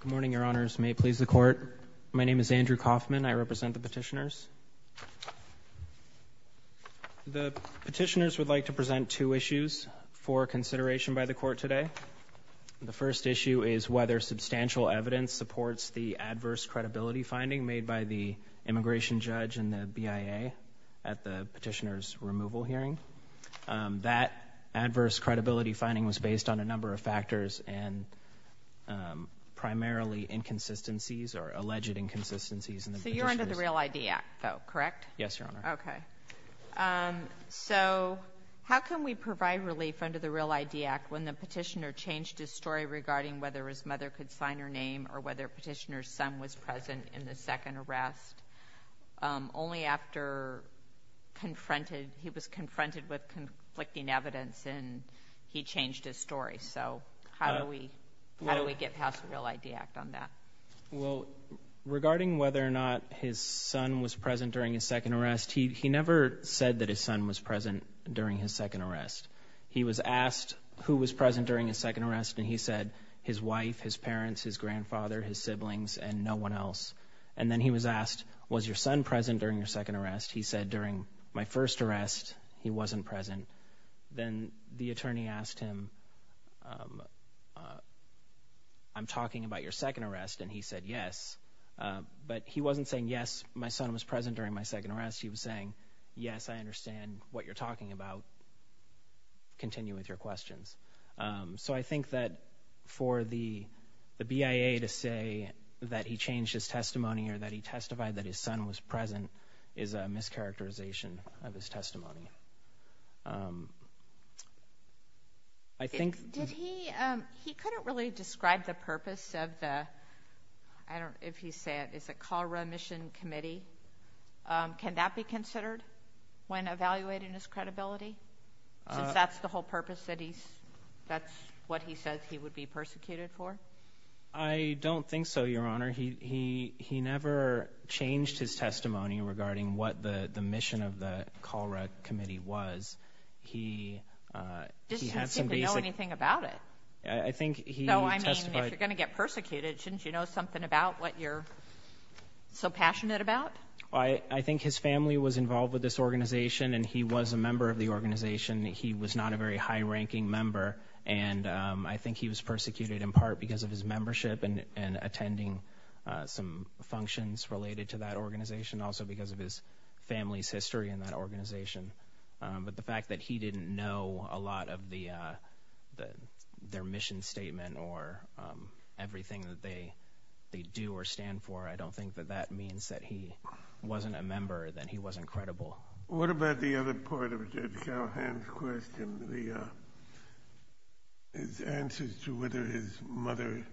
Good morning, your honors. May it please the court. My name is Andrew Kaufman. I represent the petitioners. The petitioners would like to present two issues for consideration by the court today. The first issue is whether substantial evidence supports the adverse credibility finding made by the immigration judge and the BIA at the petitioner's removal hearing. That adverse credibility finding was based on a number of factors and primarily inconsistencies or alleged inconsistencies in the petitioner's... So you're under the Real ID Act though, correct? Yes, your honor. Okay. So how can we provide relief under the Real ID Act when the petitioner changed his story regarding whether his mother could sign her name or whether petitioner's son was present in the second arrest only after he was confronted with conflicting evidence and he changed his story? So how do we get past the Real ID Act on that? Well, regarding whether or not his son was present during his second arrest, he never said that his son was present during his second arrest. He was asked who was present during his second arrest and he said his wife, his parents, his grandfather, his siblings, and then he was asked, was your son present during your second arrest? He said, during my first arrest, he wasn't present. Then the attorney asked him, I'm talking about your second arrest and he said, yes. But he wasn't saying, yes, my son was present during my second arrest. He was saying, yes, I understand what you're talking about. Continue with your questions. So I think that for the BIA to say that he changed his testimony or that he testified that his son was present is a mischaracterization of his testimony. He couldn't really describe the purpose of the, I don't know if he said, is it Colorado Mission Committee? Can that be considered when evaluating his credibility since that's the whole purpose that he's, that's what he says he would be persecuted for? I don't think so, Your Honor. He, he, he never changed his testimony regarding what the, the mission of the Colorado Committee was. He, uh, he had some basic... He didn't seem to know anything about it. I think he testified... So, I mean, if you're going to get persecuted, shouldn't you know something about what you're so passionate about? I, I think his family was involved with this organization, and he was a member of the organization. He was not a very high-ranking member, and, um, I think he was persecuted in part because of his membership and, and attending, uh, some functions related to that organization, also because of his family's history in that organization. Um, but the fact that he didn't know a lot of the, uh, the, their mission statement or, um, everything that they, they do or stand for, I don't think that that means that he wasn't a member, that he wasn't credible. What about the other part of Judge Calhoun's question, the, uh, his answers to whether his mother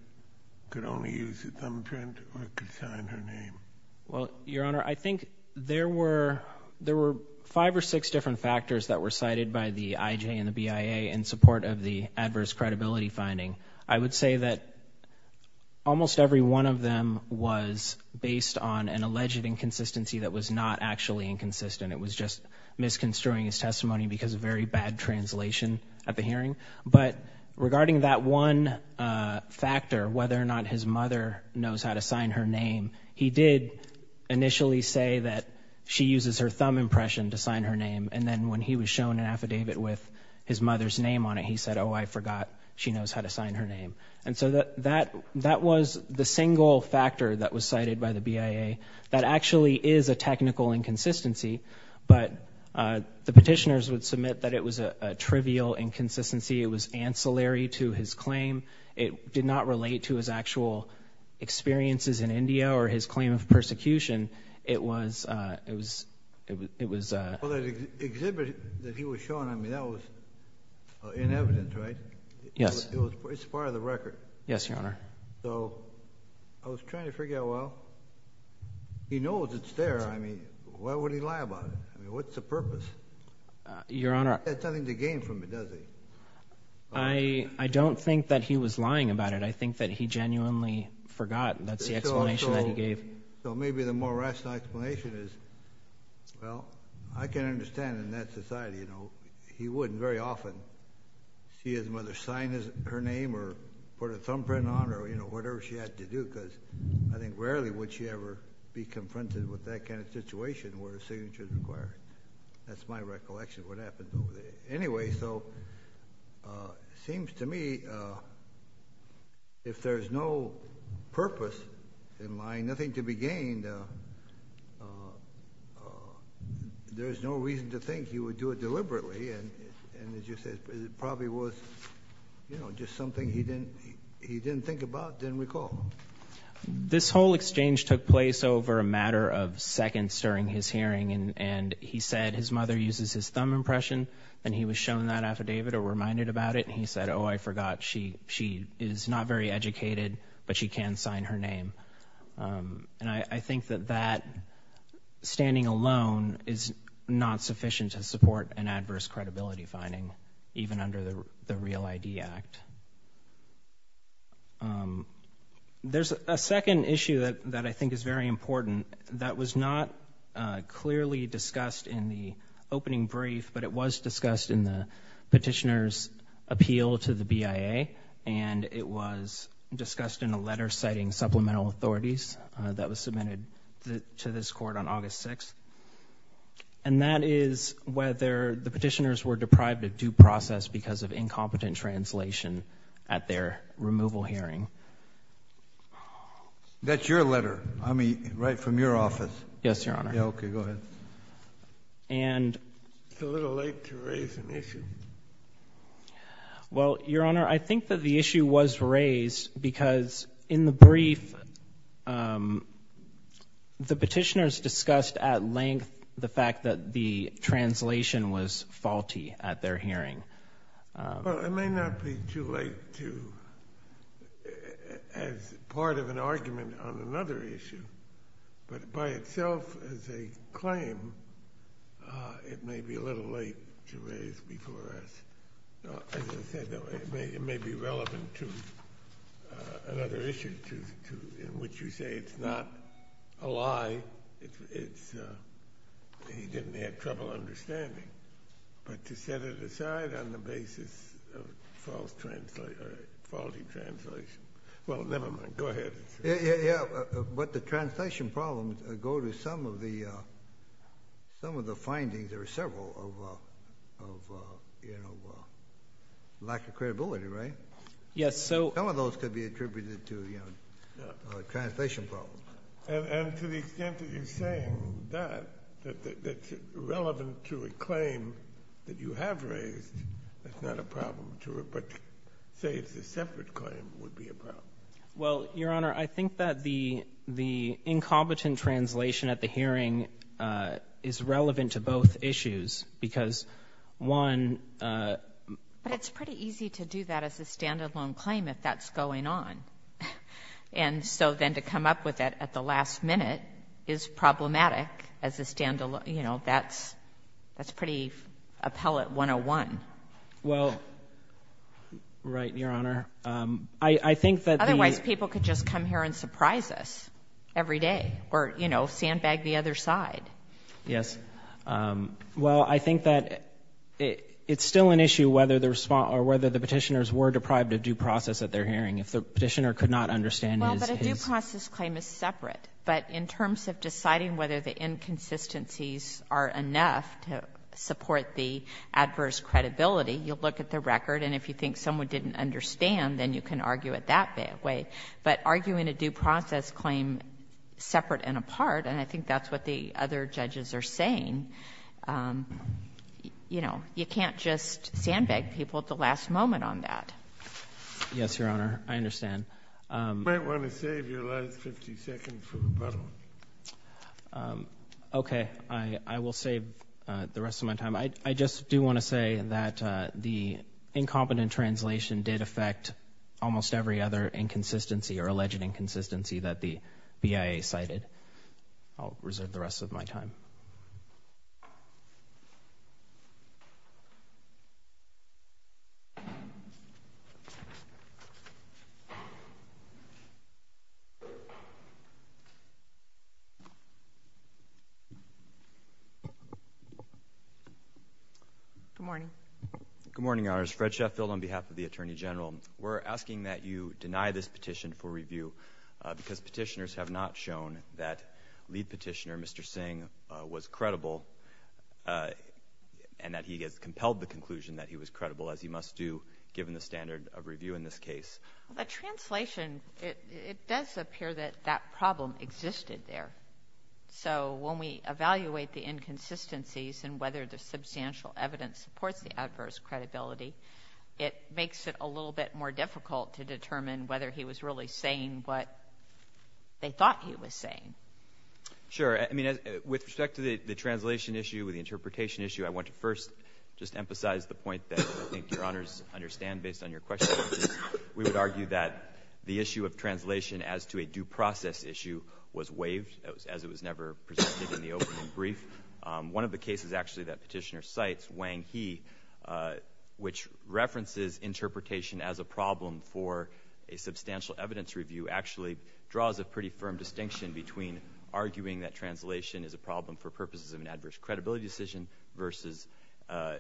could only use a thumbprint or could sign her name? Well, Your Honor, I think there were, there were five or six different factors that were cited by the IJ and the BIA in support of the adverse alleged inconsistency that was not actually inconsistent. It was just misconstruing his testimony because of very bad translation at the hearing. But regarding that one, uh, factor, whether or not his mother knows how to sign her name, he did initially say that she uses her thumb impression to sign her name, and then when he was shown an affidavit with his mother's name on it, he said, oh, I forgot she knows how to sign her name. And so that, that was the single factor that was cited by the BIA that actually is a technical inconsistency. But, uh, the petitioners would submit that it was a trivial inconsistency. It was ancillary to his claim. It did not relate to his actual experiences in India or his claim of persecution. It was, uh, it was, it was, it was, uh, well, that exhibit that he was shown, I mean, that was inevitable, right? Yes. It was, it's part of the record. Yes, Your Honor. So I was trying to figure out, well, he knows it's there. I mean, why would he lie about it? I mean, what's the purpose? Your Honor. That's something to gain from it, doesn't it? I, I don't think that he was lying about it. I think that he genuinely forgot. That's the explanation that he gave. So maybe the more rational explanation is, well, I can understand in that society, you know, he wouldn't very often see his mother sign her name or put a thumbprint on or, you know, whatever she had to do, because I think rarely would she ever be confronted with that kind of situation where a signature is required. That's my recollection of what happened over there. Anyway, so, uh, seems to me, uh, if there's no purpose in lying, nothing to be gained, uh, uh, uh, there's no reason to think he would do it deliberately. And, and as you said, it probably was, you know, just something he didn't, he didn't think about, didn't recall. This whole exchange took place over a matter of seconds during his hearing. And he said his mother uses his thumb impression and he was shown that affidavit or reminded about it. And he said, oh, I forgot. She, she is not very educated, but she can sign her name. Um, and I, I think that that standing alone is not sufficient to support an adverse credibility finding even under the Real ID Act. Um, there's a second issue that, that I think is very important that was not, uh, clearly discussed in the opening brief, but it was discussed in the petitioner's appeal to the BIA. And it was discussed in a letter citing supplemental authorities, uh, that was submitted to this court on August 6th. And that is whether the petitioners were deprived of due process because of incompetent translation at their removal hearing. That's your letter. I mean, right from your office. Yes, Your Honor. Yeah. Okay. Go ahead. And it's a little late to raise an issue. Well, Your Honor, I think that the issue was raised because in the brief, um, the petitioners discussed at length the fact that the translation was faulty at their hearing. Well, it may not be too late to, as part of an argument on another issue, but by itself as a claim, uh, it may be a little late to raise before us. As I said, it may be relevant to another issue to, to, in which you say it's not a lie. It's, uh, he didn't have trouble understanding, but to set it aside on the basis of false translation or faulty translation. Well, nevermind. Go ahead. Yeah. But the translation problems go to some of the, uh, some of the findings. There are several of, uh, of, uh, you know, uh, lack of credibility, right? Yes. So some of those could be attributed to, you know, uh, translation problems. And, and to the extent that you're saying that, that, that that's relevant to a claim that you have raised, that's not a problem to report, say it's a separate claim would be a problem. Well, Your Honor, I think that the, the incompetent translation at the hearing, uh, is relevant to both issues because one, uh... But it's pretty easy to do that as a standalone claim if that's going on. And so then to come up with that at the last minute is problematic as a standalone, you know, that's, that's pretty appellate 101. Well, right. Your Honor. Um, I, I think that... Otherwise people could just come here and surprise us every day or, you know, sandbag the other side. Yes. Um, well, I think that it, it's still an issue whether the response or whether the Well, but a due process claim is separate. But in terms of deciding whether the inconsistencies are enough to support the adverse credibility, you'll look at the record and if you think someone didn't understand, then you can argue it that way. But arguing a due process claim separate and apart, and I think that's what the other judges are saying, um, you know, you can't just sandbag people at the last moment on that. Yes, Your Honor. I understand. You might want to save your last 50 seconds for rebuttal. Um, okay. I, I will save, uh, the rest of my time. I, I just do want to say that, uh, the incompetent translation did affect almost every other inconsistency or alleged inconsistency that the BIA cited. I'll reserve the rest of my time. Good morning. Good morning, Your Honors. Fred Sheffield on behalf of the Attorney General. We're asking that you deny this petition for review, uh, because petitioners have not shown that lead petitioner, Mr. Singh, uh, was credible, uh, and that he has compelled the conclusion that he was credible, as he must do given the standard of review in this case. Well, the translation, it, it does appear that that problem existed there. So when we evaluate the inconsistencies and whether the substantial evidence supports the adverse credibility, it makes it a little bit more difficult to determine whether he was really saying what they thought he was saying. Sure. I mean, uh, with respect to the, the translation issue with the interpretation issue, I want to first just emphasize the point that I think Your Honors understand based on your question. We would argue that the issue of translation as to a due process issue was waived as it was never presented in the opening brief. Um, one of the cases actually that interpretation as a problem for a substantial evidence review actually draws a pretty firm distinction between arguing that translation is a problem for purposes of an adverse credibility decision versus, uh,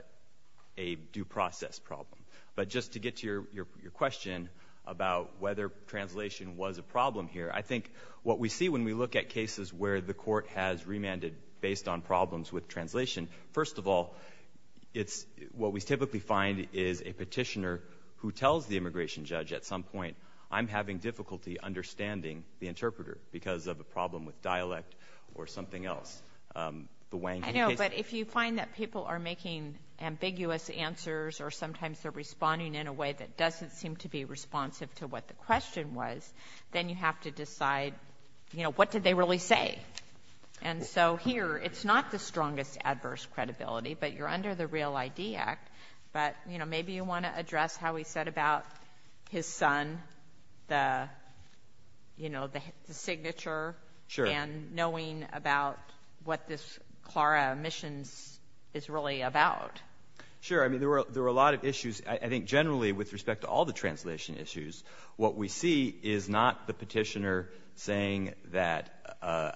a due process problem. But just to get to your, your, your question about whether translation was a problem here, I think what we see when we look at cases where the court has remanded based on problems with translation, first of all, it's, what we typically find is a petitioner who tells the immigration judge at some point, I'm having difficulty understanding the interpreter because of a problem with dialect or something else. Um, the Wang case. I know, but if you find that people are making ambiguous answers or sometimes they're responding in a way that doesn't seem to be responsive to what the question was, then you have to decide, you know, what did they really say? And so here, it's not the strongest adverse credibility, but you're under the Real ID Act. But, you know, maybe you want to address how he said about his son, the, you know, the signature and knowing about what this Clara missions is really about. Sure. I mean, there were, there were a lot of issues. I think generally with respect to all the translation issues, what we see is not the petitioner saying that, uh,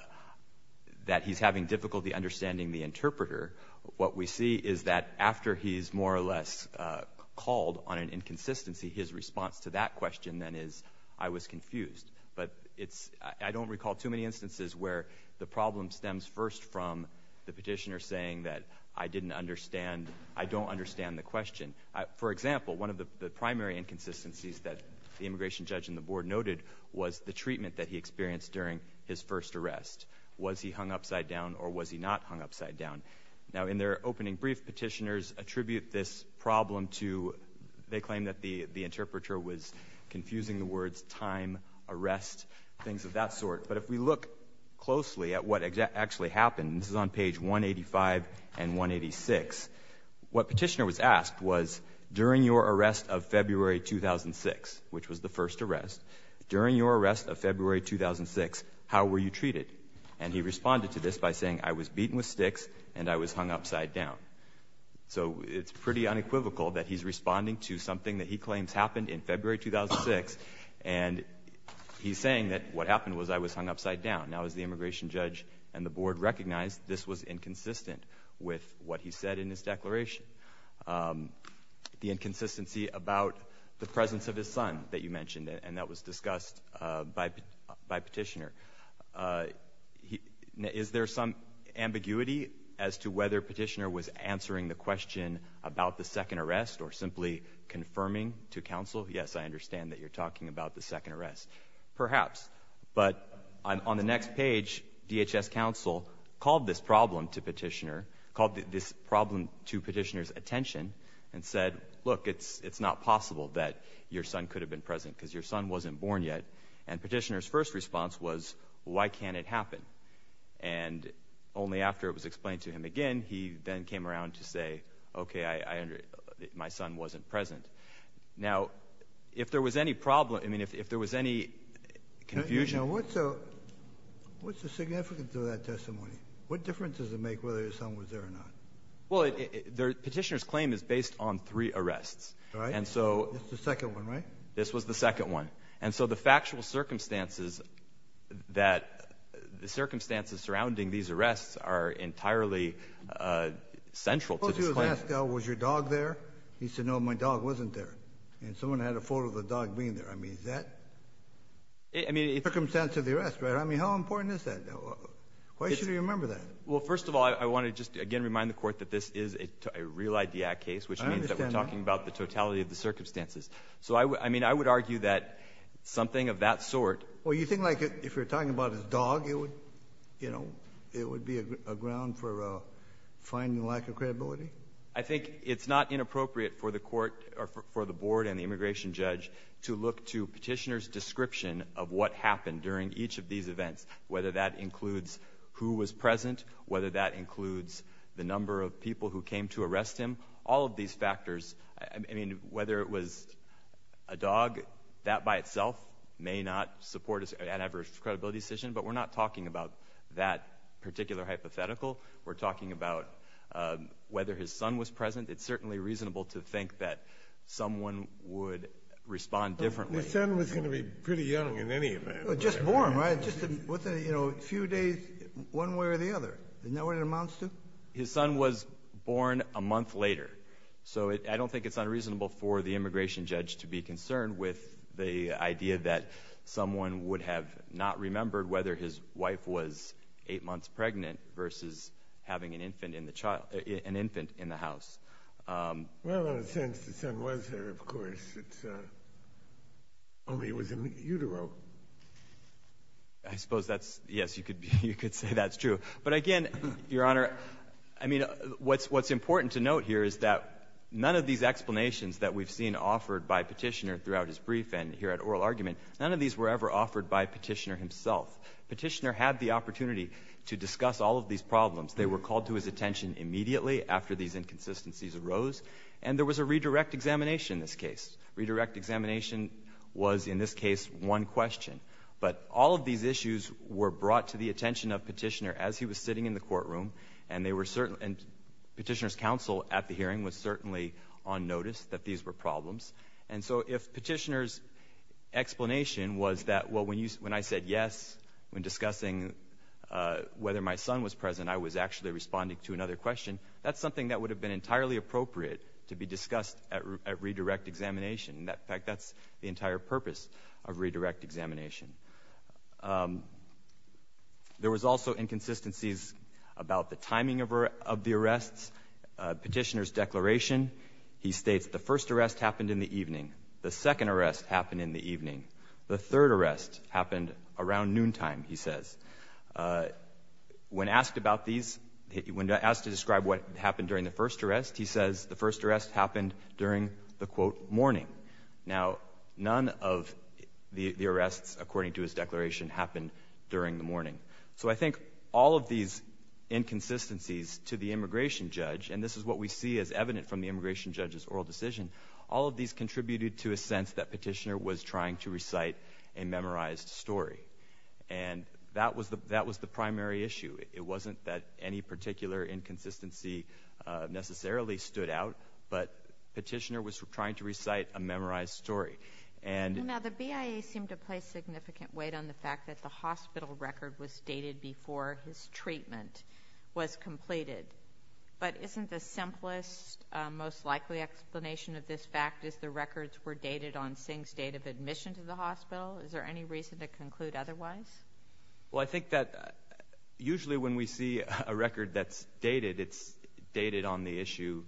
that he's having difficulty understanding the interpreter. What we see is that after he's more or less, uh, called on an inconsistency, his response to that question then is I was confused, but it's, I don't recall too many instances where the problem stems first from the petitioner saying that I didn't understand. I don't understand the question. I, for example, one of the primary inconsistencies that the immigration judge and the board noted was the treatment that he was he hung upside down or was he not hung upside down? Now in their opening brief, petitioners attribute this problem to, they claim that the, the interpreter was confusing the words, time arrest, things of that sort. But if we look closely at what actually happened, this is on page one 85 and one 86, what petitioner was asked was during your arrest of February, 2006, which was the first arrest during your arrest of February, 2006, how were you treated? And he responded to this by saying, I was beaten with sticks and I was hung upside down. So it's pretty unequivocal that he's responding to something that he claims happened in February, 2006. And he's saying that what happened was I was hung upside down. Now, as the immigration judge and the board recognized, this was inconsistent with what he said in his declaration. Um, the inconsistency about the presence of his son that you mentioned, and that was discussed, uh, by, by petitioner, uh, he, is there some ambiguity as to whether petitioner was answering the question about the second arrest or simply confirming to council? Yes, I understand that you're talking about the second arrest perhaps, but on the next page, DHS council called this problem to petitioner called this problem to petitioner's attention and said, look, it's, it's not possible that your son could have been present because your son wasn't born yet. And petitioner's first response was why can't it happen? And only after it was explained to him again, he then came around to say, okay, I under, my son wasn't present. Now, if there was any problem, I mean, if, if there was any confusion, what's the significance of that testimony? What difference does it make whether your son was there or not? Well, the petitioner's claim is based on three arrests. And so the second one, right? This was the second one. And so the factual circumstances that the circumstances surrounding these arrests are entirely, uh, central to this claim. Was your dog there? He said, no, my dog wasn't there. And someone had a photo of the dog being there. I mean, is that circumstance of the arrest, right? I mean, how important is that? Why should he remember that? Well, first of all, I want to just again, remind the court that this is a real idea case, which means that we're talking about the totality of the circumstances. So I, I mean, I would argue that something of that sort, well, you think like if you're talking about his dog, it would, you know, it would be a ground for a finding lack of credibility. I think it's not inappropriate for the court or for the board and the immigration judge to look to petitioner's description of what that includes, who was present, whether that includes the number of people who came to arrest him, all of these factors. I mean, whether it was a dog that by itself may not support an adverse credibility decision, but we're not talking about that particular hypothetical. We're talking about, um, whether his son was present. It's certainly reasonable to think that someone would respond differently. His son was going to be pretty young in any event. Just born, right? Just within, you know, a few days, one way or the other. Isn't that what it amounts to? His son was born a month later. So I don't think it's unreasonable for the immigration judge to be concerned with the idea that someone would have not remembered whether his wife was eight months pregnant versus having an infant in the child, an infant in the house. Um, well, in a way, it was in the utero. I suppose that's, yes, you could, you could say that's true. But again, Your Honor, I mean, what's, what's important to note here is that none of these explanations that we've seen offered by petitioner throughout his brief and here at oral argument, none of these were ever offered by petitioner himself. Petitioner had the opportunity to discuss all of these problems. They were called to his attention immediately after these inconsistencies arose. And there was a redirect examination in this case. Redirect examination was, in this case, one question. But all of these issues were brought to the attention of petitioner as he was sitting in the courtroom. And they were certain, and petitioner's counsel at the hearing was certainly on notice that these were problems. And so if petitioner's explanation was that, well, when you, when I said yes, when discussing whether my son was present, I was actually responding to another question, that's something that would have been entirely appropriate to be discussed at redirect examination. In fact, that's the entire purpose of redirect examination. There was also inconsistencies about the timing of the arrests. Petitioner's declaration, he states, the first arrest happened in the evening. The second arrest happened in the evening. The third arrest happened around noontime, he says. When asked about these, when asked to describe what happened during the first arrest, he says the first arrest happened during the, quote, morning. Now, none of the arrests, according to his declaration, happened during the morning. So I think all of these inconsistencies to the immigration judge, and this is what we see as evident from the immigration judge's oral decision, all of these contributed to a sense that a memorized story. And that was the primary issue. It wasn't that any particular inconsistency necessarily stood out, but petitioner was trying to recite a memorized story. Now, the BIA seemed to place significant weight on the fact that the hospital record was dated before his treatment was completed. But isn't the simplest, most likely explanation of this fact is the records were dated on Singh's date of admission to the hospital? Is there any reason to conclude otherwise? Well, I think that usually when we see a record that's dated, it's dated on the issue,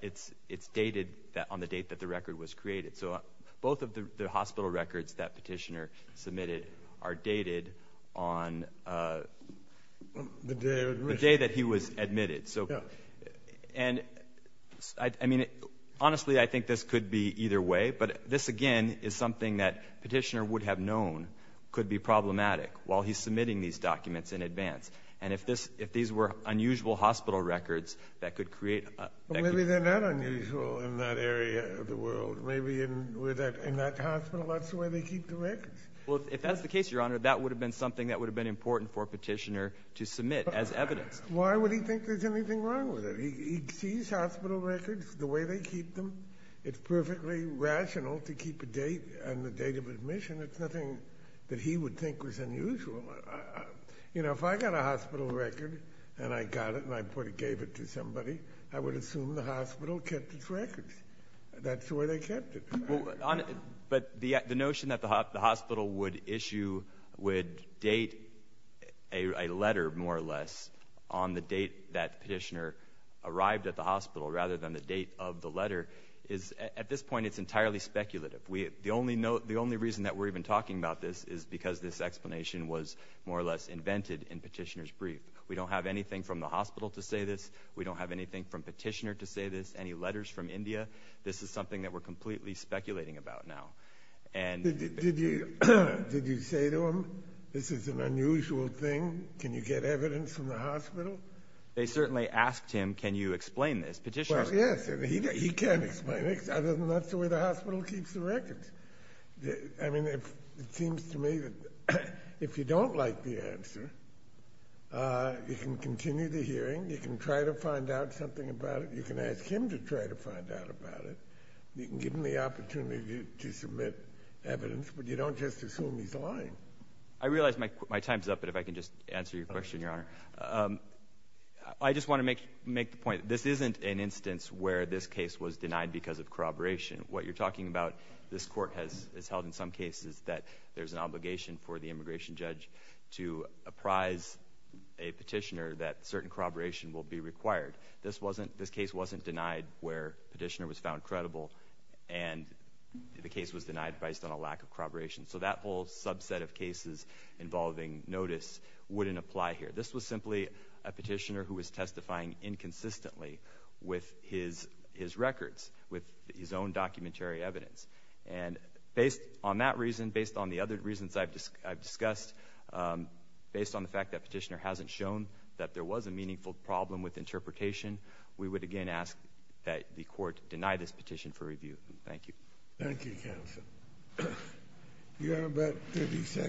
it's dated on the date that the record was created. So both of the hospital records that petitioner submitted are dated on the day that he was admitted to the hospital. But this, again, is something that petitioner would have known could be problematic while he's submitting these documents in advance. And if these were unusual hospital records that could create... Well, maybe they're not unusual in that area of the world. Maybe in that hospital, that's the way they keep the records. Well, if that's the case, Your Honor, that would have been something that would have been important for a petitioner to submit as evidence. Why would he think there's anything wrong with it? He sees hospital records the way they keep them. It's perfectly rational to keep a date and the date of admission. It's nothing that he would think was unusual. If I got a hospital record and I got it and I gave it to somebody, I would assume the hospital kept its records. That's the way they kept it. But the notion that the hospital would issue, would date a letter, more or less, on the date that petitioner arrived at the hospital rather than the date of the letter is, at this point, it's entirely speculative. The only reason that we're even talking about this is because this explanation was more or less invented in petitioner's brief. We don't have anything from the hospital to say this. We don't have anything from petitioner to say this, any letters from India. This is something that we're completely speculating about now. Did you say to him, this is an unusual thing? Can you get evidence from the hospital? They certainly asked him, can you explain this? Petitioners... Well, yes. He can't explain it other than that's the way the hospital keeps the records. It seems to me that if you don't like the answer, you can continue the hearing. You can try to find out something about it. You can ask him to try to find out about it. You can give him the opportunity to submit evidence, but you don't just assume he's lying. I realize my time's up, but if I can just answer your question, your honor. I just want to make the point, this isn't an instance where this case was denied because of corroboration. What you're talking about, this court has held in some cases that there's an obligation for the immigration judge to apprise a petitioner that certain corroboration will be required. This case wasn't denied where the petitioner was found credible and the case was denied based on a lack of corroboration. So that whole subset of cases involving notice wouldn't apply here. This was simply a petitioner who was testifying inconsistently with his records, with his own documentary evidence. And based on that reason, based on the other reasons I've discussed, based on the fact that petitioner hasn't shown that there was a meaningful problem with interpretation, we would again ask that the court deny this petition for review. Thank you. Thank you, counsel. You have about 53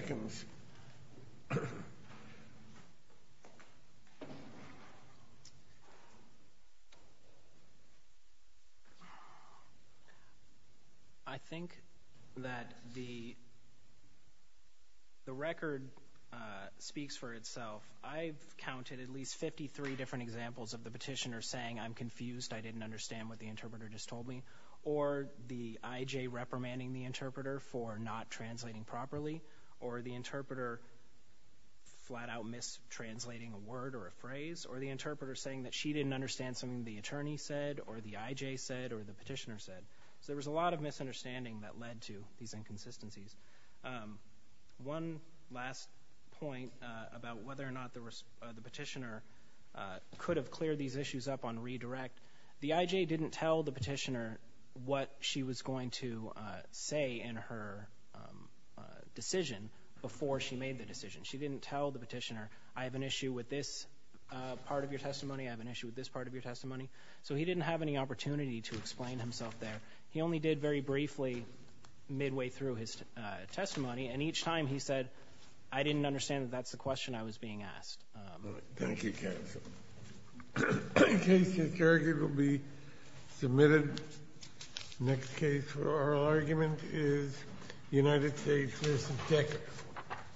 different examples of the petitioner saying, I'm confused, I didn't understand what the interpreter just told me. Or the IJ reprimanding the interpreter for not translating properly. Or the interpreter flat out mistranslating a word or a phrase. Or the interpreter saying that she didn't understand something the attorney said or the IJ said or the petitioner said. So there was a lot of misunderstanding that led to these inconsistencies. One last point about whether or not the petitioner could have cleared these issues up on redirect. The IJ didn't tell the petitioner what she was going to say in her decision before she made the decision. She didn't tell the petitioner, I have an issue with this part of your testimony, I have an issue with this part of your testimony. So he didn't have any opportunity to explain himself there. He only did very briefly midway through his testimony. And each time he said, I didn't understand that that's the question I was being asked. Thank you counsel. The case in circuit will be submitted. Next case for oral argument is United States v. Decker.